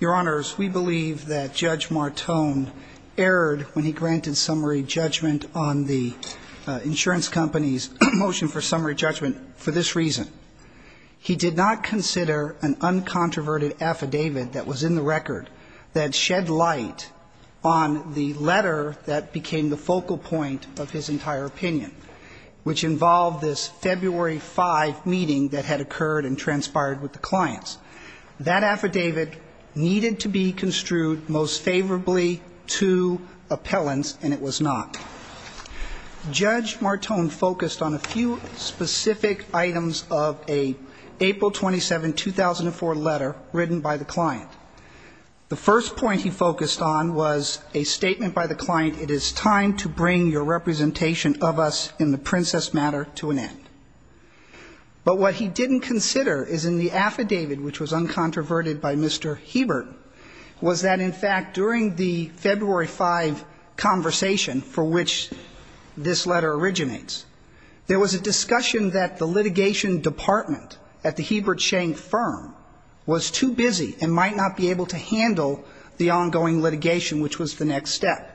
Your Honors, we believe that Judge Martone erred when he granted summary judgment on the insurance company's motion for summary judgment for this reason. He did not consider an uncontroverted affidavit that was in the record that shed light on the letter that became the focal point of his entire opinion, which involved this February 5 meeting that had occurred and transpired with the clients. That affidavit needed to be construed most favorably to appellants, and it was not. Judge Martone focused on a few specific items of an April 27, 2004 letter written by the client. The first point he focused on was a statement by the client, it is time to bring your representation of us in the Princess matter to an end. But what he didn't consider is in the affidavit, which was uncontroverted by Mr. Hebert, was that, in fact, during the February 5 conversation for which this letter originates, there was a discussion that the litigation department at the Hebert Schenk firm was too busy and might not be able to handle the ongoing litigation, which was the next step.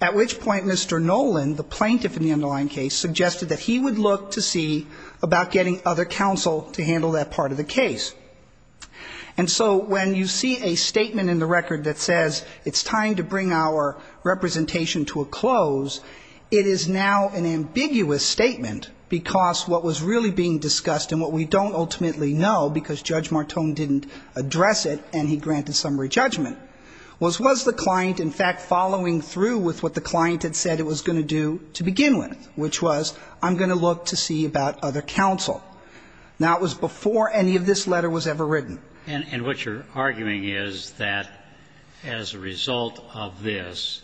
At which point Mr. Nolan, the plaintiff in the underlying case, suggested that he would look to see about getting other counsel to handle that part of the case. And so when you see a statement in the record that says it's time to bring our representation to a close, it is now an ambiguous statement, because what was really being discussed and what we don't ultimately know, because Judge Martone didn't address it and he granted summary judgment, was was the client, in fact, following through with what the client had said it was going to do to begin with, which was I'm going to look to see about other counsel. Now, it was before any of this letter was ever written. And what you're arguing is that as a result of this,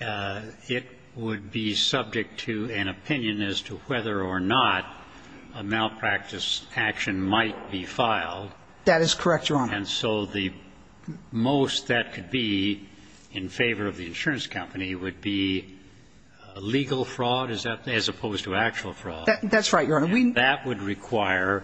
it would be subject to an opinion as to whether or not a malpractice action might be filed. That is correct, Your Honor. And so the most that could be in favor of the insurance company would be legal fraud as opposed to actual fraud. That's right, Your Honor. And that would require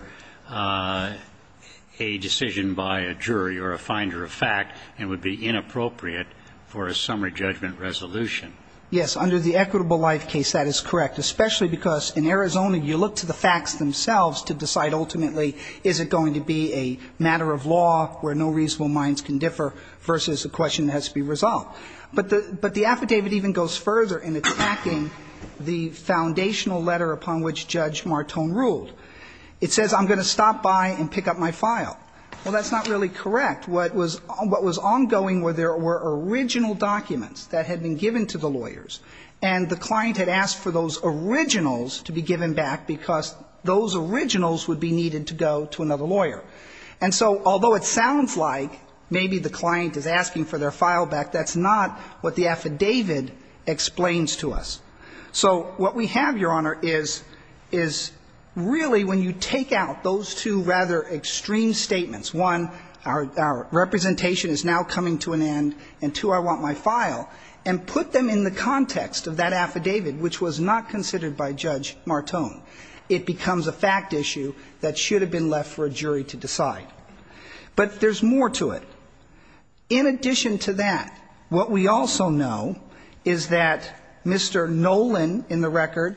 a decision by a jury or a finder of fact and would be inappropriate for a summary judgment resolution. Yes. Under the equitable life case, that is correct, especially because in Arizona you look to the facts themselves to decide ultimately is it going to be a matter of law where no reasonable minds can differ versus a question that has to be resolved. But the affidavit even goes further in attacking the foundational letter upon which Judge Martone ruled. It says I'm going to stop by and pick up my file. Well, that's not really correct. What was ongoing were there were original documents that had been given to the lawyers. And the client had asked for those originals to be given back because those originals would be needed to go to another lawyer. And so although it sounds like maybe the client is asking for their file back, that's not what the affidavit explains to us. So what we have, Your Honor, is really when you take out those two rather extreme statements, one, our representation is now coming to an end, and, two, I want my file, and put them in the context of that affidavit, which was not considered by Judge Martone, it becomes a fact issue that should have been left for a jury to decide. But there's more to it. In addition to that, what we also know is that Mr. Nolan in the record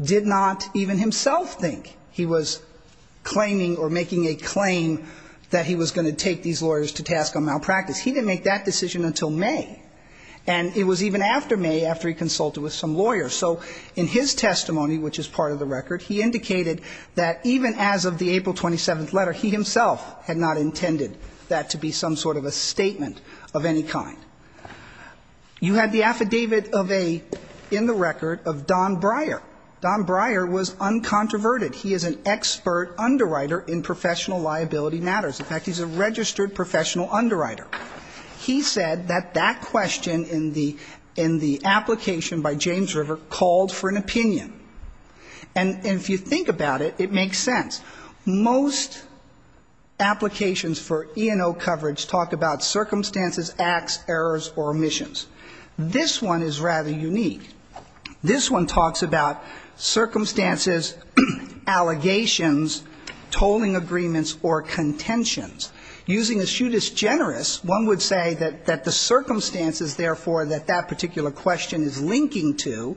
did not even himself think he was claiming or making a claim that he was going to take these lawyers to task on malpractice. He didn't make that decision until May. And it was even after May after he consulted with some lawyers. So in his testimony, which is part of the record, he indicated that even as of the April 27th letter, he himself had not intended that to be some sort of a statement of any kind. You had the affidavit of a, in the record, of Don Breyer. Don Breyer was uncontroverted. He is an expert underwriter in professional liability matters. In fact, he's a registered professional underwriter. He said that that question in the application by James River called for an opinion. And if you think about it, it makes sense. Most applications for E&O coverage talk about circumstances, acts, errors, or omissions. This one is rather unique. This one talks about circumstances, allegations, tolling agreements, or contentions. Using a shoot as generous, one would say that the circumstances, therefore, that that particular question is linking to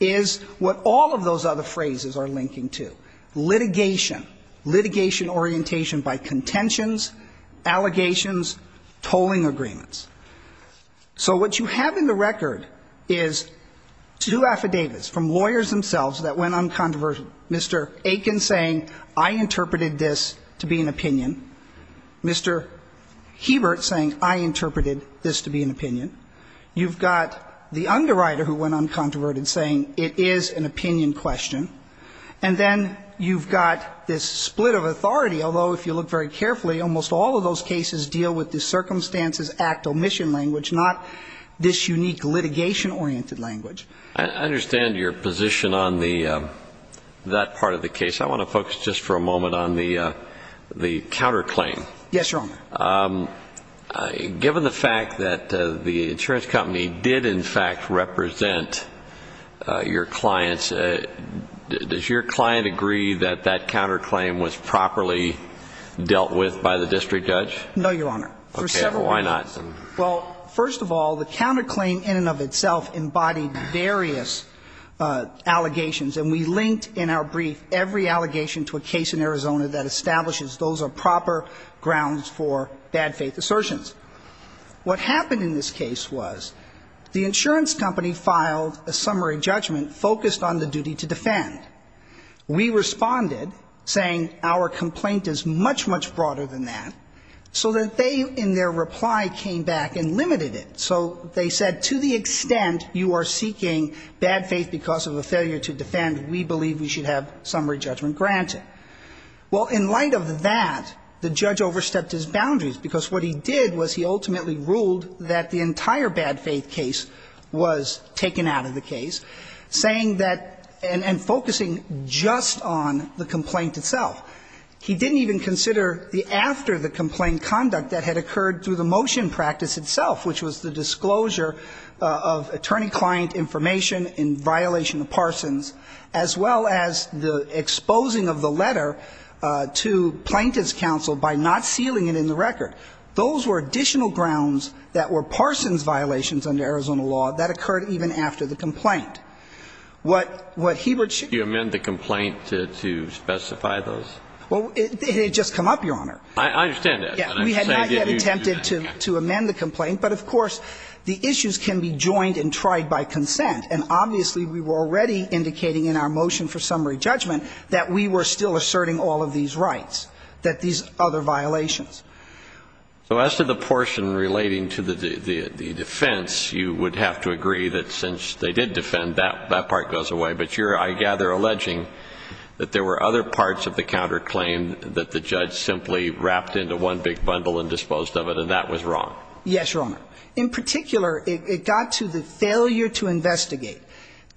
is what all of those other phrases are linking to. Litigation. Litigation orientation by contentions, allegations, tolling agreements. So what you have in the record is two affidavits from lawyers themselves that went uncontroversial. Mr. Aiken saying, I interpreted this to be an opinion. Mr. Hebert saying, I interpreted this to be an opinion. You've got the underwriter who went uncontroverted saying it is an opinion question. And then you've got this split of authority, although if you look very carefully, almost all of those cases deal with the circumstances, act, omission language, not this unique litigation-oriented language. I understand your position on that part of the case. I want to focus just for a moment on the counterclaim. Yes, Your Honor. Given the fact that the insurance company did in fact represent your clients, does your client agree that that counterclaim was properly dealt with by the district judge? No, Your Honor. Okay. Why not? Well, first of all, the counterclaim in and of itself embodied various allegations, and we linked in our brief every allegation to a case in Arizona that establishes those are proper grounds for bad faith assertions. What happened in this case was the insurance company filed a summary judgment focused on the duty to defend. We responded saying our complaint is much, much broader than that, so that they in their reply came back and limited it. So they said to the extent you are seeking bad faith because of a failure to defend, we believe we should have summary judgment granted. Well, in light of that, the judge overstepped his boundaries, because what he did was he ultimately ruled that the entire bad faith case was taken out of the case, saying that and focusing just on the complaint itself. He didn't even consider the after the complaint conduct that had occurred through the motion practice itself, which was the disclosure of attorney-client information in violation of Parsons, as well as the exposing of the letter to plaintiff's counsel by not sealing it in the record. Those were additional grounds that were Parsons violations under Arizona law that occurred even after the complaint. What Hebert should do. You amend the complaint to specify those? Well, it had just come up, Your Honor. I understand that. We had not yet attempted to amend the complaint, but, of course, the issues can be joined and tried by consent. And obviously, we were already indicating in our motion for summary judgment that we were still asserting all of these rights, that these other violations. So as to the portion relating to the defense, you would have to agree that since they did defend, that part goes away. But you're, I gather, alleging that there were other parts of the counterclaim that the judge simply wrapped into one big bundle and disposed of it, and that was wrong. Yes, Your Honor. In particular, it got to the failure to investigate.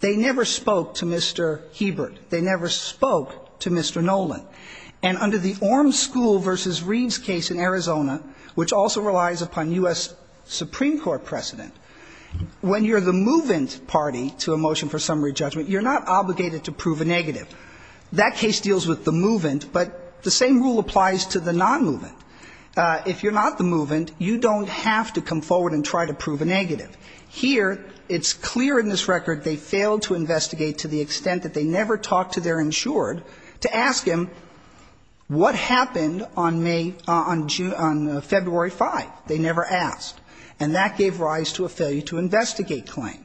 They never spoke to Mr. Hebert. They never spoke to Mr. Nolan. And under the Orm School v. Reed's case in Arizona, which also relies upon U.S. Supreme Court precedent, when you're the move-in party to a motion for summary judgment, you're not obligated to prove a negative. That case deals with the move-in, but the same rule applies to the non-move-in. If you're not the move-in, you don't have to come forward and try to prove a negative. Here, it's clear in this record they failed to investigate to the extent that they never talked to their insured to ask him what happened on May, on June, on February 5th. They never asked. And that gave rise to a failure to investigate claim.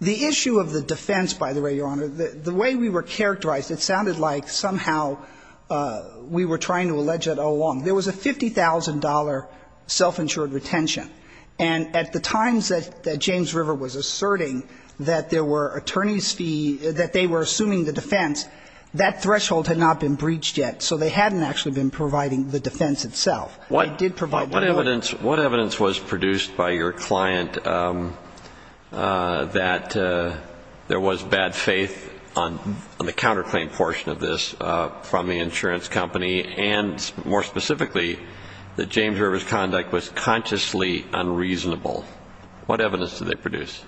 The issue of the defense, by the way, Your Honor, the way we were characterized, it sounded like somehow we were trying to allege it all along. There was a $50,000 self-insured retention. And at the times that James River was asserting that there were attorney's fee, that they were assuming the defense, that threshold had not been breached yet. So they hadn't actually been providing the defense itself. They did provide the motive. What evidence was produced by your client that there was bad faith on the counterclaim portion of this from the insurance company and, more specifically, that James River's conduct was consciously unreasonable? What evidence did they produce?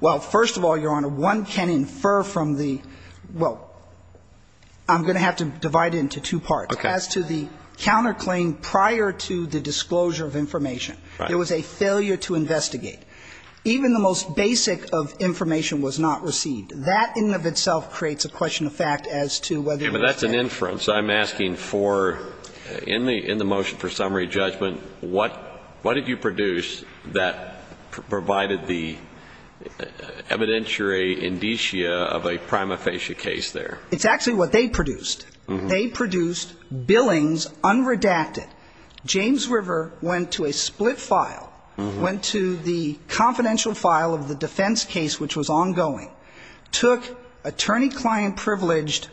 Well, first of all, Your Honor, one can infer from the – well, I'm going to have to divide it into two parts. Okay. As to the counterclaim prior to the disclosure of information. Right. There was a failure to investigate. Even the most basic of information was not received. That in and of itself creates a question of fact as to whether it was bad faith. But that's an inference. So I'm asking for – in the motion for summary judgment, what did you produce that provided the evidentiary indicia of a prima facie case there? It's actually what they produced. They produced billings unredacted. James River went to a split file, went to the confidential file of the defense case, which was ongoing, took attorney-client-privileged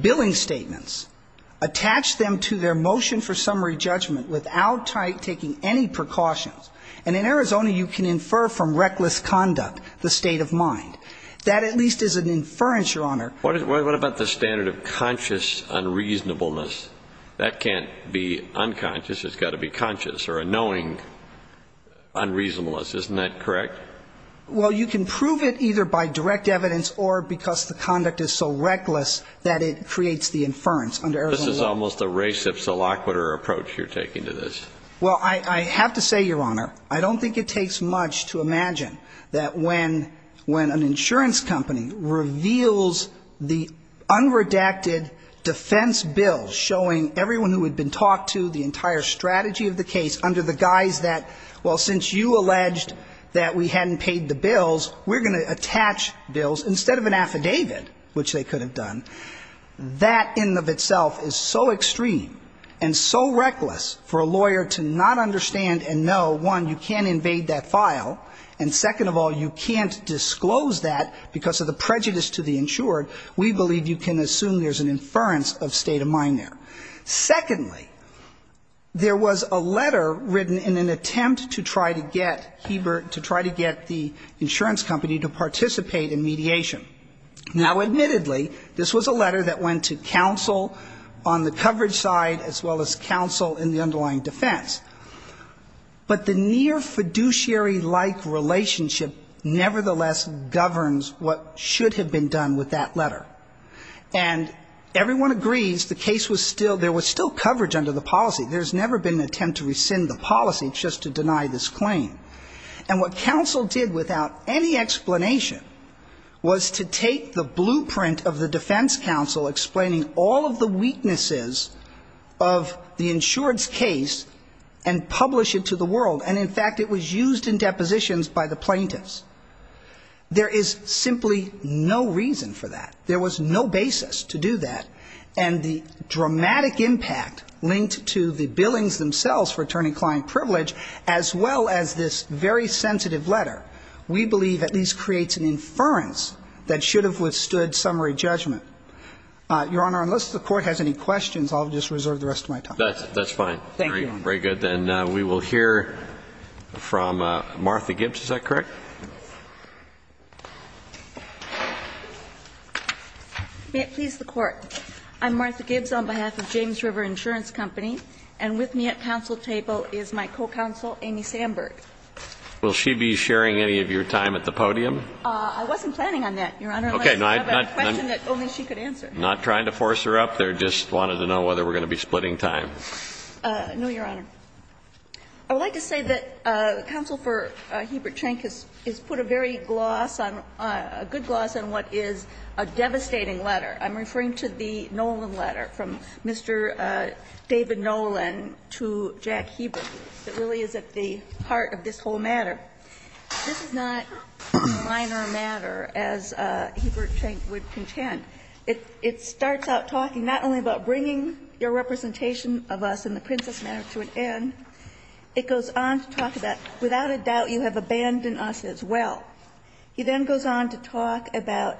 billing statements, attached them to their motion for summary judgment without taking any precautions. And in Arizona, you can infer from reckless conduct the state of mind. That at least is an inference, Your Honor. What about the standard of conscious unreasonableness? That can't be unconscious. It's got to be conscious or a knowing unreasonableness. Isn't that correct? Well, you can prove it either by direct evidence or because the conduct is so reckless that it creates the inference under Arizona law. This is almost a race of solaquitur approach you're taking to this. Well, I have to say, Your Honor, I don't think it takes much to imagine that when an insurance company reveals the unredacted defense bill showing everyone who had been talked to the entire strategy of the case under the guise that, well, since you alleged that we hadn't paid the bills, we're going to attach bills instead of an affidavit, which they could have done. That in and of itself is so extreme and so reckless for a lawyer to not understand and know, one, you can't invade that file, and second of all, you can't disclose that because of the prejudice to the insured. We believe you can assume there's an inference of state of mind there. Secondly, there was a letter written in an attempt to try to get Heber, to try to get the insurance company to participate in mediation. Now, admittedly, this was a letter that went to counsel on the coverage side as well as counsel in the underlying defense. But the near fiduciary-like relationship nevertheless governs what should have been done with that letter. And everyone agrees the case was still, there was still coverage under the policy. There's never been an attempt to rescind the policy just to deny this claim. And what counsel did without any explanation was to take the blueprint of the defense counsel explaining all of the weaknesses of the insurance case and publish it to the world. And, in fact, it was used in depositions by the plaintiffs. There is simply no reason for that. There was no basis to do that. And the dramatic impact linked to the billings themselves for attorney-client privilege as well as this very sensitive letter we believe at least creates an inference that should have withstood summary judgment. Your Honor, unless the Court has any questions, I'll just reserve the rest of my time. That's fine. Thank you, Your Honor. Very good. Then we will hear from Martha Gibbs. Is that correct? May it please the Court. I'm Martha Gibbs on behalf of James River Insurance Company. And with me at counsel table is my co-counsel, Amy Sandberg. Will she be sharing any of your time at the podium? I wasn't planning on that, Your Honor, unless you have a question that only she could answer. Not trying to force her up there, just wanted to know whether we're going to be splitting time. No, Your Honor. I would like to say that counsel for Hiebert-Chenk has put a very gloss on, a good gloss on what is a devastating letter. I'm referring to the Nolan letter from Mr. David Nolan to Jack Hiebert that really is at the heart of this whole matter. This is not a minor matter, as Hiebert-Chenk would contend. It starts out talking not only about bringing your representation of us in the Princess Manor to an end, it goes on to talk about, without a doubt, you have abandoned us as well. He then goes on to talk about,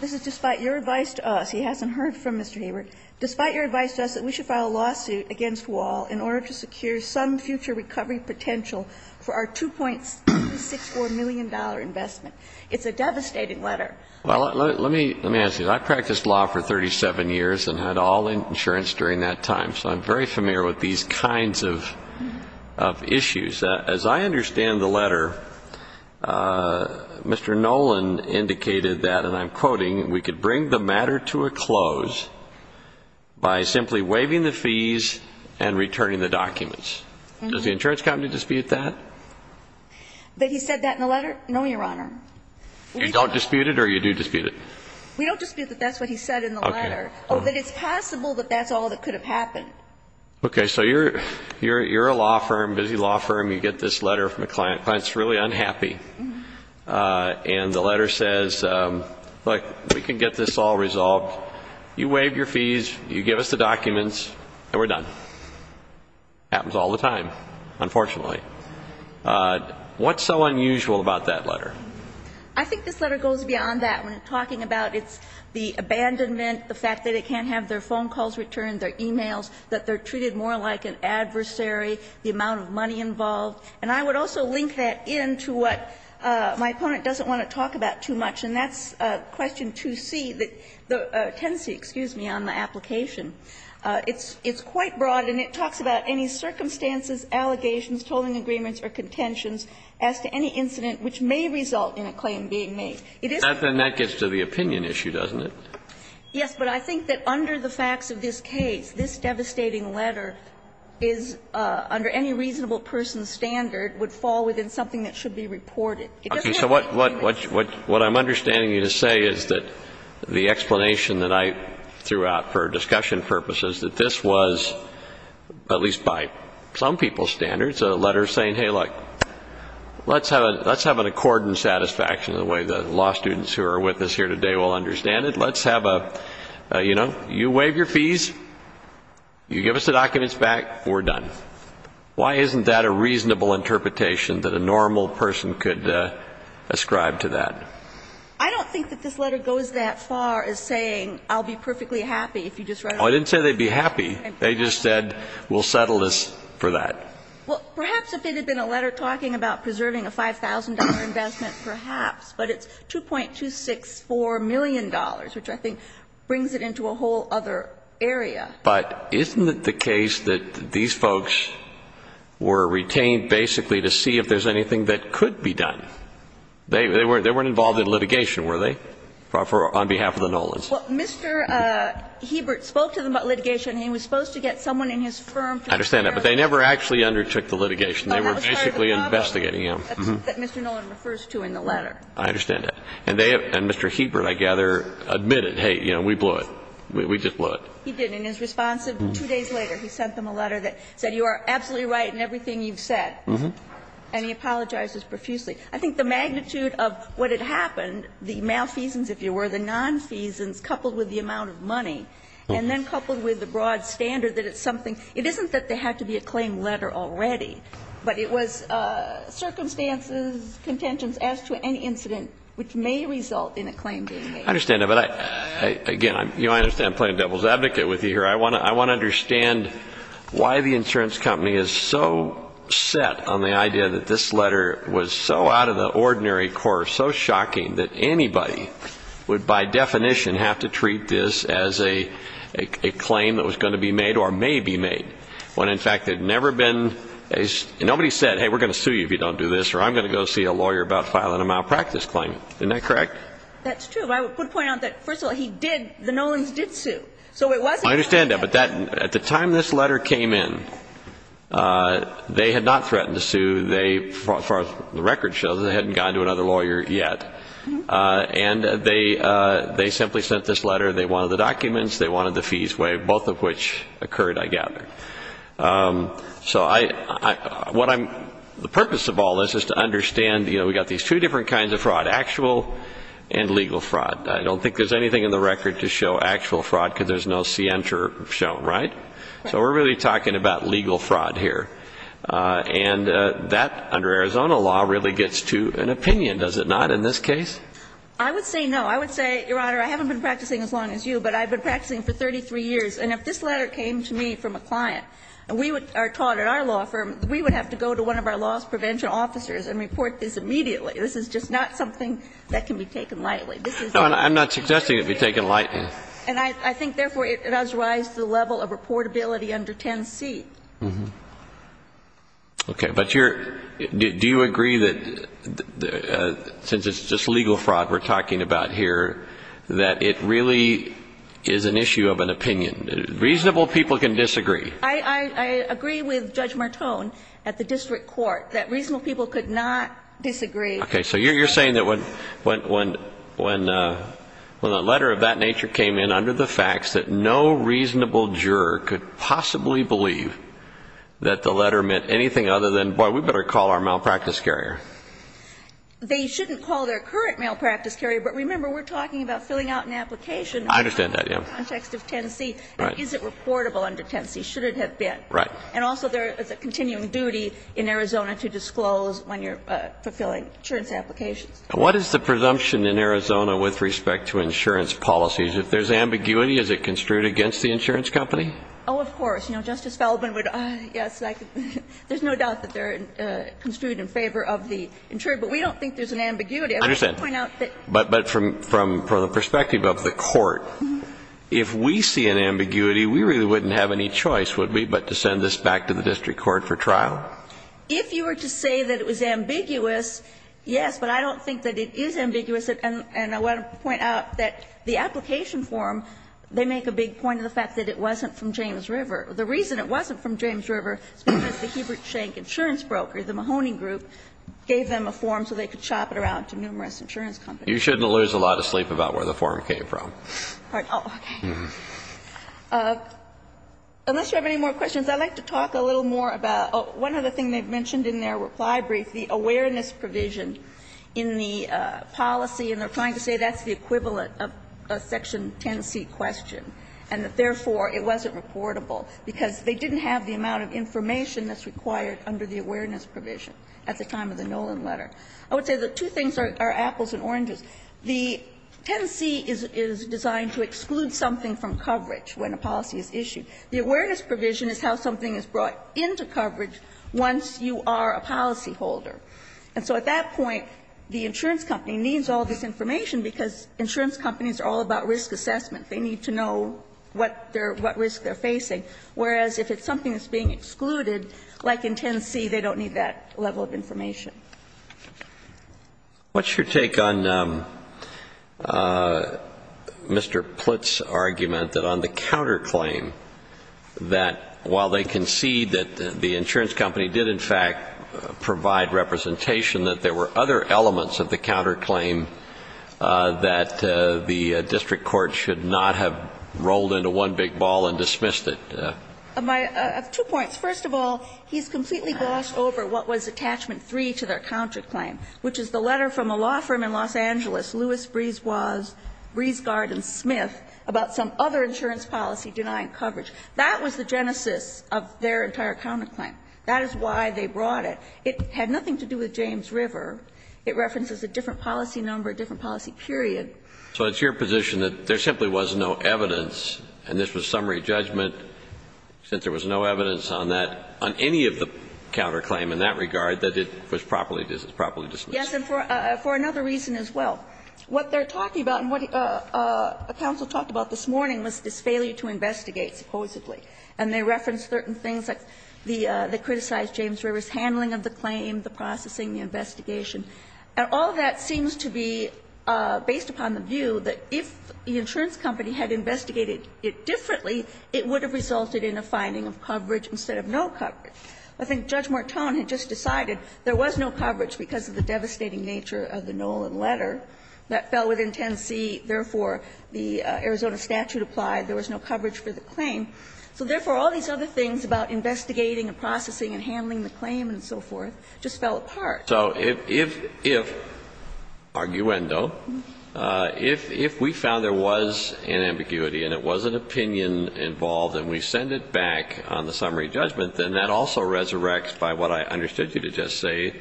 this is despite your advice to us, he hasn't heard from Mr. Hiebert, despite your advice to us that we should file a lawsuit against Wall in order to secure some future recovery potential for our $2.64 million investment. It's a devastating letter. Well, let me ask you. I practiced law for 37 years and had all insurance during that time, so I'm very familiar with these kinds of issues. As I understand the letter, Mr. Nolan indicated that, and I'm quoting, we could bring the matter to a close by simply waiving the fees and returning the documents. Does the insurance company dispute that? That he said that in the letter? No, Your Honor. You don't dispute it or you do dispute it? We don't dispute that that's what he said in the letter. Okay. That it's possible that that's all that could have happened. Okay. So you're a law firm, busy law firm, you get this letter from a client, the client is really unhappy, and the letter says, look, we can get this all resolved. You waive your fees, you give us the documents, and we're done. Happens all the time, unfortunately. What's so unusual about that letter? I think this letter goes beyond that. When talking about it's the abandonment, the fact that they can't have their phone calls returned, their e-mails, that they're treated more like an adversary, the amount of money involved. And I would also link that in to what my opponent doesn't want to talk about too much, and that's question 2C, the tenancy, excuse me, on the application. It's quite broad, and it talks about any circumstances, allegations, tolling agreements, or contentions as to any incident which may result in a claim being made. It is. And that gets to the opinion issue, doesn't it? Yes. But I think that under the facts of this case, this devastating letter is, under any reasonable person's standard, would fall within something that should be reported. Okay. So what I'm understanding you to say is that the explanation that I threw out for discussion purposes, that this was, at least by some people's standards, a letter saying, hey, look, let's have an accord and satisfaction the way the law students who are with us here today will understand it. Let's have a, you know, you waive your fees, you give us the documents back, we're done. Why isn't that a reasonable interpretation that a normal person could ascribe to that? I don't think that this letter goes that far as saying I'll be perfectly happy if you just write it. I didn't say they'd be happy. They just said we'll settle this for that. Well, perhaps if it had been a letter talking about preserving a $5,000 investment, perhaps. But it's $2.264 million, which I think brings it into a whole other area. But isn't it the case that these folks were retained basically to see if there's anything that could be done? They weren't involved in litigation, were they, on behalf of the Nolans? Well, Mr. Hebert spoke to them about litigation, and he was supposed to get someone in his firm. I understand that. But they never actually undertook the litigation. No, that was part of the problem. They were basically investigating him. That's what Mr. Nolan refers to in the letter. I understand that. And they have, and Mr. Hebert, I gather, admitted, hey, you know, we blew it. We just blew it. He did. And in his response, two days later, he sent them a letter that said you are absolutely right in everything you've said. And he apologizes profusely. I think the magnitude of what had happened, the malfeasance, if you were, the nonfeasance was coupled with the amount of money and then coupled with the broad standard that it's something. It isn't that there had to be a claim letter already, but it was circumstances, contentions as to any incident which may result in a claim being made. I understand that. But, again, you know, I understand I'm playing devil's advocate with you here. I want to understand why the insurance company is so set on the idea that this letter was so out of the ordinary course, so shocking, that anybody would by definition have to treat this as a claim that was going to be made or may be made when, in fact, there had never been, nobody said, hey, we're going to sue you if you don't do this or I'm going to go see a lawyer about filing a malpractice claim. Isn't that correct? That's true. But I would point out that, first of all, he did, the Nolans did sue. So it wasn't. I understand that. But at the time this letter came in, they had not threatened to sue. They, as far as the record shows, they hadn't gone to another lawyer yet. And they simply sent this letter. They wanted the documents. They wanted the fees waived, both of which occurred, I gather. So I, what I'm, the purpose of all this is to understand, you know, we've got these two different kinds of fraud, actual and legal fraud. I don't think there's anything in the record to show actual fraud because there's no scienter shown, right? So we're really talking about legal fraud here. And that, under Arizona law, really gets to an opinion, does it not, in this case? I would say no. I would say, Your Honor, I haven't been practicing as long as you, but I've been practicing for 33 years. And if this letter came to me from a client and we are taught at our law firm, we would have to go to one of our loss prevention officers and report this immediately. This is just not something that can be taken lightly. This is not. No, I'm not suggesting it be taken lightly. And I think, therefore, it does rise to the level of reportability under 10C. Okay. But do you agree that, since it's just legal fraud we're talking about here, that it really is an issue of an opinion? Reasonable people can disagree. I agree with Judge Martone at the district court that reasonable people could not disagree. Okay. So you're saying that when a letter of that nature came in under the facts that no reasonable juror could possibly believe that the letter meant anything other than, boy, we better call our malpractice carrier? They shouldn't call their current malpractice carrier, but remember, we're talking about filling out an application. I understand that, yeah. In the context of 10C. Right. And is it reportable under 10C? Should it have been? Right. And also there is a continuing duty in Arizona to disclose when you're fulfilling insurance applications. What is the presumption in Arizona with respect to insurance policies? If there's ambiguity, is it construed against the insurance company? Oh, of course. You know, Justice Feldman would, yes, there's no doubt that they're construed in favor of the insurer, but we don't think there's an ambiguity. I just want to point out that. I understand. But from the perspective of the court, if we see an ambiguity, we really wouldn't have any choice, would we, but to send this back to the district court for trial? If you were to say that it was ambiguous, yes, but I don't think that it is ambiguous. And I want to point out that the application form, they make a big point of the fact that it wasn't from James River. The reason it wasn't from James River is because the Hebert Schenck insurance broker, the Mahoney Group, gave them a form so they could shop it around to numerous insurance companies. You shouldn't lose a lot of sleep about where the form came from. Pardon? Oh, okay. Unless you have any more questions, I'd like to talk a little more about one other thing they've mentioned in their reply brief, the awareness provision in the policy, and they're trying to say that's the equivalent of a section 10C question, and that therefore it wasn't reportable because they didn't have the amount of information that's required under the awareness provision at the time of the Nolan letter. I would say the two things are apples and oranges. The 10C is designed to exclude something from coverage when a policy is issued. The awareness provision is how something is brought into coverage once you are a policy holder. And so at that point, the insurance company needs all this information because insurance companies are all about risk assessment. They need to know what risk they're facing, whereas if it's something that's being excluded, like in 10C, they don't need that level of information. What's your take on Mr. Plitt's argument that on the counterclaim, that while they concede that the insurance company did in fact provide representation, that there were other elements of the counterclaim that the district court should not have rolled into one big ball and dismissed it? I have two points. First of all, he's completely glossed over what was attachment 3 to their counterclaim, which is the letter from a law firm in Los Angeles, Lewis, Breeze Guard and Smith, about some other insurance policy denying coverage. That was the genesis of their entire counterclaim. That is why they brought it. It had nothing to do with James River. It references a different policy number, a different policy period. So it's your position that there simply was no evidence, and this was summary judgment, since there was no evidence on that, on any of the counterclaim in that regard, that it was properly dismissed? Yes, and for another reason as well. What they're talking about and what counsel talked about this morning was this failure to investigate, supposedly. And they referenced certain things like the they criticized James River's handling of the claim, the processing, the investigation. And all that seems to be based upon the view that if the insurance company had investigated it differently, it would have resulted in a finding of coverage instead of no coverage. I think Judge Mortone had just decided there was no coverage because of the devastating nature of the Nolan letter that fell within 10C, therefore, the Arizona statute applied, there was no coverage for the claim. So therefore, all these other things about investigating and processing and handling the claim and so forth just fell apart. So if, if, if, arguendo, if, if we found there was an ambiguity and it was an opinion involved and we send it back on the summary judgment, then that also resurrects by what I understood you to just say,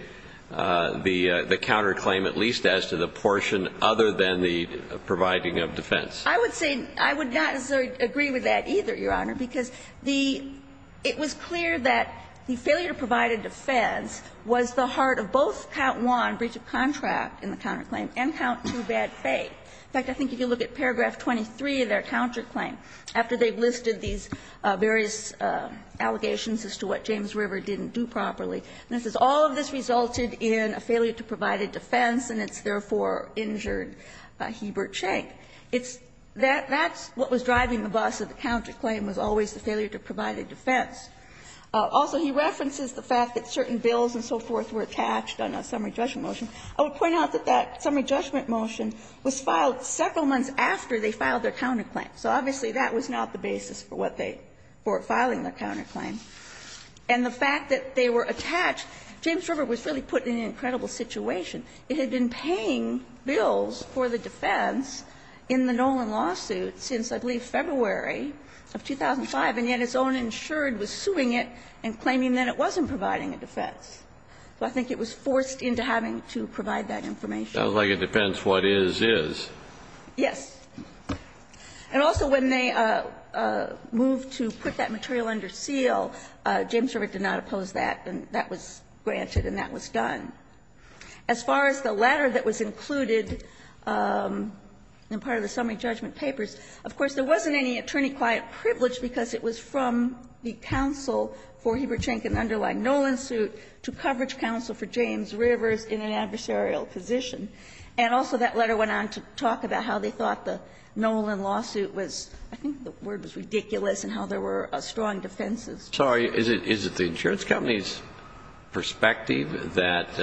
the counterclaim at least as to the portion other than the providing of defense. I would say, I would not agree with that either, Your Honor, because the, it was clear that the failure to provide a defense was the heart of both count one, breach of contract in the counterclaim, and count two, bad faith. In fact, I think if you look at paragraph 23 of their counterclaim, after they've listed these various allegations as to what James River didn't do properly, this is all of this resulted in a failure to provide a defense and it's therefore injured by Hebert Schenck. It's, that, that's what was driving the bus of the counterclaim was always the failure to provide a defense. Also, he references the fact that certain bills and so forth were attached on a summary judgment motion. I would point out that that summary judgment motion was filed several months after they filed their counterclaim. So obviously, that was not the basis for what they, for filing their counterclaim. And the fact that they were attached, James River was really put in an incredible situation. It had been paying bills for the defense in the Nolan lawsuit since, I believe, February of 2005, and yet its own insured was suing it and claiming that it wasn't providing a defense. So I think it was forced into having to provide that information. Kennedy, it sounds like it depends what is, is. Yes. And also when they moved to put that material under seal, James River did not oppose that, and that was granted and that was done. As far as the latter that was included in part of the summary judgment papers, of course, there wasn't any attorney-quiet privilege because it was from the counsel for Heberchenk and underlying Nolan suit to coverage counsel for James River in an adversarial position. And also that letter went on to talk about how they thought the Nolan lawsuit was, I think the word was ridiculous, and how there were strong defenses. Sorry, is it, is it the insurance company's perspective that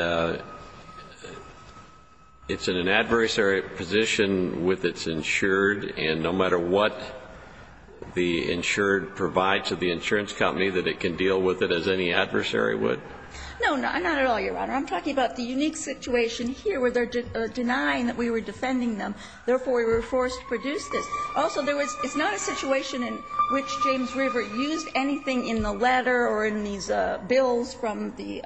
it's in an adversary position with its insured, and no matter what the insured provides to the insurance company, that it can deal with it as any adversary would? No, not at all, Your Honor. I'm talking about the unique situation here where they're denying that we were defending them. Therefore, we were forced to produce this. Also, there was, it's not a situation in which James River used anything in the letter or in these bills from the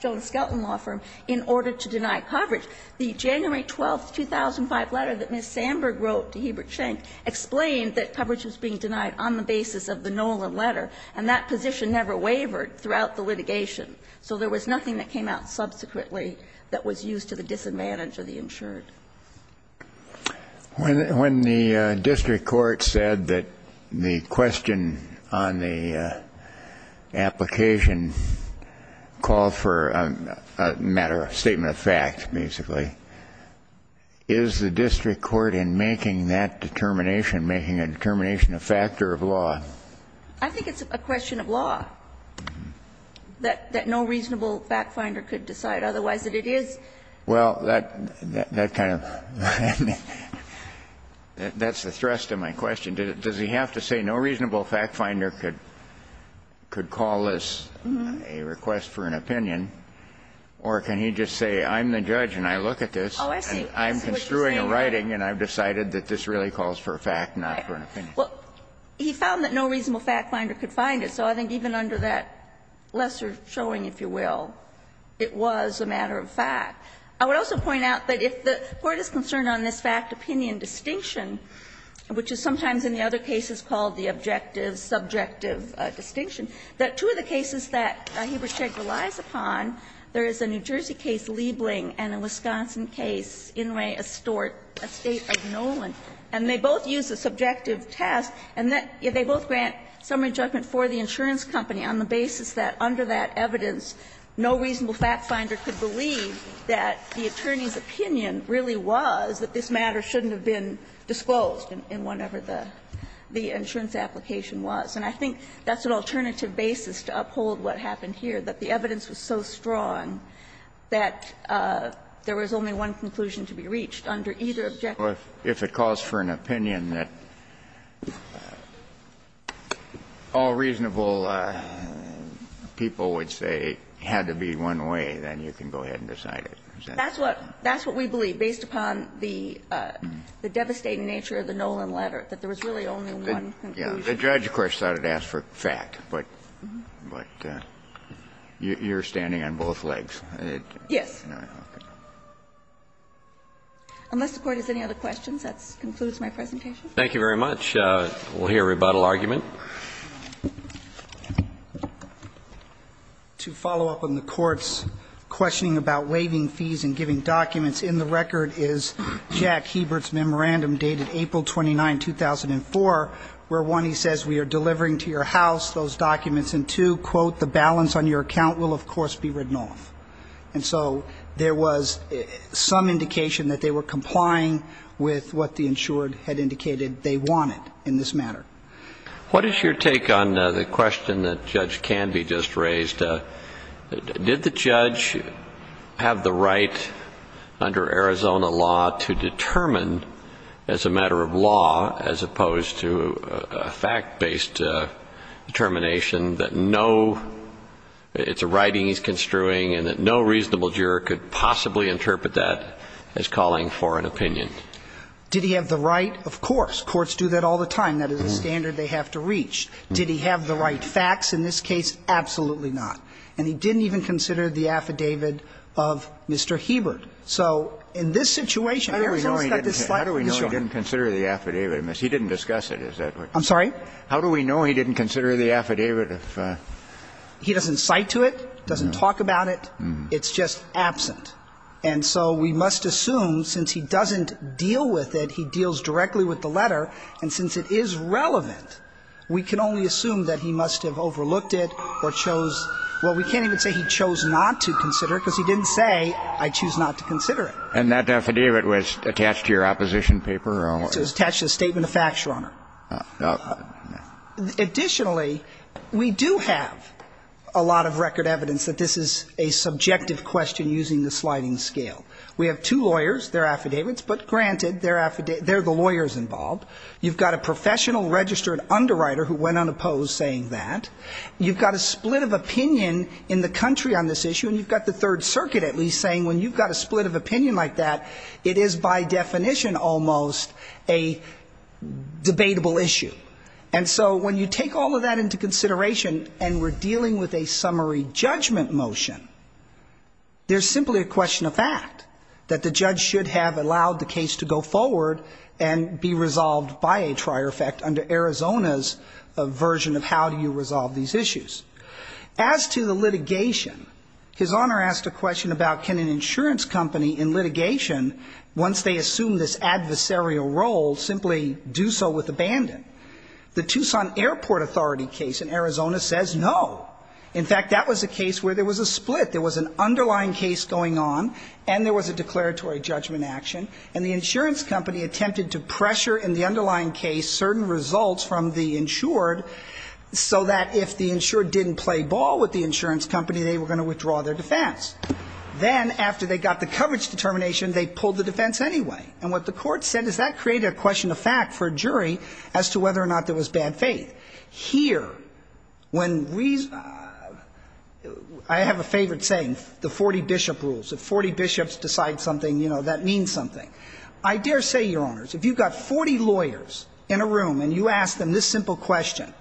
Jonas Skelton law firm in order to deny coverage. The January 12th, 2005 letter that Ms. Sandberg wrote to Heberchenk explained that coverage was being denied on the basis of the Nolan letter, and that position never wavered throughout the litigation. So there was nothing that came out subsequently that was used to the disadvantage of the insured. When the district court said that the question on the application called for a matter of statement of fact, basically, is the district court in making that determination, making a determination a factor of law? I think it's a question of law, that no reasonable fact finder could decide. Otherwise, it is. Well, that kind of, I mean, that's the thrust of my question. Does he have to say no reasonable fact finder could call this a request for an opinion? Or can he just say, I'm the judge and I look at this, and I'm construing a writing and I've decided that this really calls for a fact, not for an opinion? Well, he found that no reasonable fact finder could find it. So I think even under that lesser showing, if you will, it was a matter of fact. I would also point out that if the Court is concerned on this fact-opinion distinction, which is sometimes in the other cases called the objective-subjective distinction, that two of the cases that Hebershek relies upon, there is a New Jersey case, Liebling, and a Wisconsin case, Inouye, Astort, a State of Nolan. And they both use a subjective test, and they both grant summary judgment for the insurance company on the basis that under that evidence, no reasonable fact finder could believe that the attorney's opinion really was that this matter shouldn't have been disclosed in whatever the insurance application was. And I think that's an alternative basis to uphold what happened here, that the evidence was so strong that there was only one conclusion to be reached under either objective or subjective distinction. Kennedy, I understand that all reasonable people would say it had to be one way. Then you can go ahead and decide it. That's what we believe, based upon the devastating nature of the Nolan letter, that there was really only one conclusion. The judge, of course, thought it asked for fact, but you're standing on both legs. Yes. Unless the Court has any other questions, that concludes my presentation. Thank you very much. We'll hear a rebuttal argument. To follow up on the Court's questioning about waiving fees and giving documents, in the record is Jack Hebert's memorandum dated April 29, 2004, where, one, he says, we are delivering to your house those documents, and, two, quote, the balance on your account will, of course, be written off. And so there was some indication that they were complying with what the insured had indicated they wanted in this matter. What is your take on the question that Judge Canby just raised? Did the judge have the right under Arizona law to determine, as a matter of law as opposed to a fact-based determination, that no — it's a writing he's construing and that no reasonable juror could possibly interpret that as calling for an opinion? Did he have the right? Of course. Courts do that all the time. That is a standard they have to reach. Did he have the right facts in this case? Absolutely not. And he didn't even consider the affidavit of Mr. Hebert. So in this situation, Arizona's got this slight issue. How do we know he didn't consider the affidavit? He didn't discuss it, is that what you're saying? I'm sorry? How do we know he didn't consider the affidavit if he doesn't cite to it, doesn't talk about it, it's just absent? And so we must assume, since he doesn't deal with it, he deals directly with the letter, and since it is relevant, we can only assume that he must have overlooked it or chose — well, we can't even say he chose not to consider it, because he didn't say, I choose not to consider it. And that affidavit was attached to your opposition paper? It was attached to the Statement of Facts, Your Honor. Additionally, we do have a lot of record evidence that this is a subjective question using the sliding scale. We have two lawyers, their affidavits, but granted, they're the lawyers involved. You've got a professional registered underwriter who went unopposed saying that, you've got a split of opinion in the country on this issue, and you've got the Third Circuit at least saying when you've got a split of opinion like that, it is by definition almost a debatable issue. And so when you take all of that into consideration, and we're dealing with a There's simply a question of fact, that the judge should have allowed the case to go forward and be resolved by a trier effect under Arizona's version of how do you resolve these issues. As to the litigation, His Honor asked a question about can an insurance company in litigation, once they assume this adversarial role, simply do so with abandon? The Tucson Airport Authority case in Arizona says no. In fact, that was a case where there was a split. There was an underlying case going on, and there was a declaratory judgment action, and the insurance company attempted to pressure in the underlying case certain results from the insured so that if the insured didn't play ball with the insurance company, they were going to withdraw their defense. Then, after they got the coverage determination, they pulled the defense anyway. And what the court said is that created a question of fact for a jury as to whether or not there was bad faith. Here, when reason – I have a favorite saying, the 40 bishop rules. If 40 bishops decide something, you know, that means something. I dare say, Your Honors, if you've got 40 lawyers in a room and you ask them this simple question,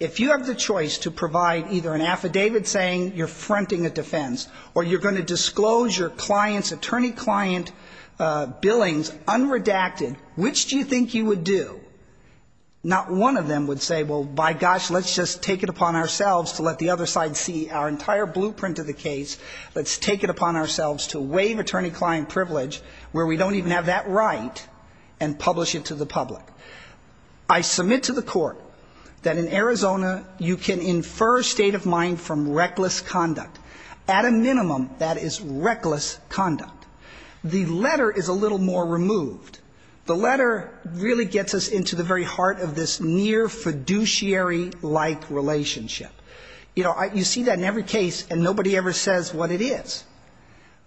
if you have the choice to provide either an affidavit saying you're fronting a defense or you're going to disclose your client's, attorney client, billings unredacted, which do you think you would do? Not one of them would say, well, by gosh, let's just take it upon ourselves to let the other side see our entire blueprint of the case. Let's take it upon ourselves to waive attorney client privilege where we don't even have that right and publish it to the public. I submit to the court that in Arizona, you can infer state of mind from reckless conduct. At a minimum, that is reckless conduct. The letter is a little more removed. The letter really gets us into the very heart of this near fiduciary-like relationship. You know, you see that in every case and nobody ever says what it is.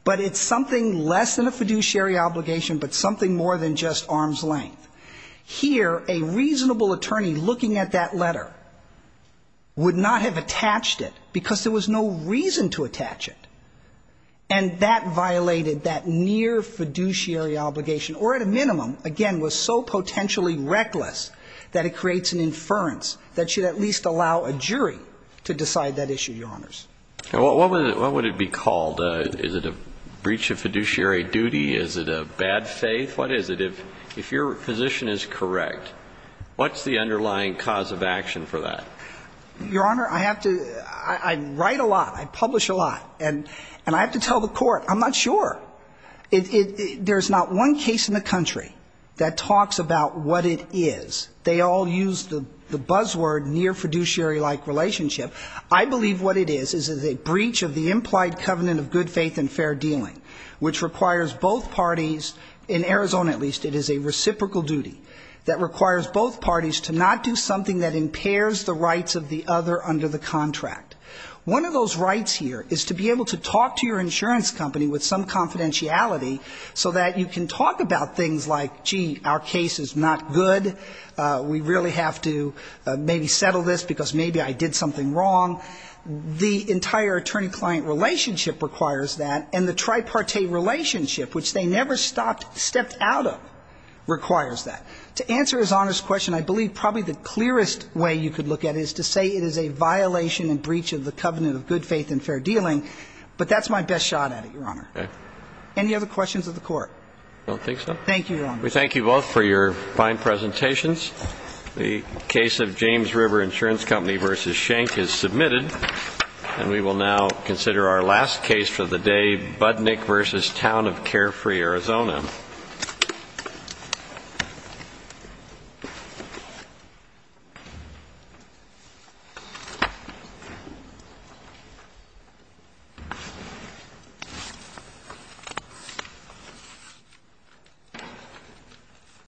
But it's something less than a fiduciary obligation, but something more than just arm's length. Here, a reasonable attorney looking at that letter would not have attached it because there was no reason to attach it. And that violated that near fiduciary obligation, or at a minimum, again, was so potentially reckless that it creates an inference that should at least allow a jury to decide that issue, Your Honors. What would it be called? Is it a breach of fiduciary duty? Is it a bad faith? What is it? If your position is correct, what's the underlying cause of action for that? Your Honor, I write a lot. I publish a lot. And I have to tell the court, I'm not sure. There's not one case in the country that talks about what it is. They all use the buzzword near fiduciary-like relationship. I believe what it is is a breach of the implied covenant of good faith and fair dealing, which requires both parties, in Arizona at least, it is a reciprocal duty that requires both parties to not do something that impairs the rights of the other under the contract. One of those rights here is to be able to talk to your insurance company with some confidentiality so that you can talk about things like, gee, our case is not good, we really have to maybe settle this because maybe I did something wrong, the entire attorney-client relationship requires that, and the tripartite relationship, which they never stopped, stepped out of, requires that. To answer His Honor's question, I believe probably the clearest way you could look at it is to say it is a violation and breach of the covenant of good faith and fair dealing, but that's my best shot at it, Your Honor. Any other questions of the court? I don't think so. Thank you, Your Honor. We thank you both for your fine presentations. The case of James River Insurance Company versus Schenck is submitted, and we will now consider our last case for the day, Budnick versus Town of Carefree, Arizona.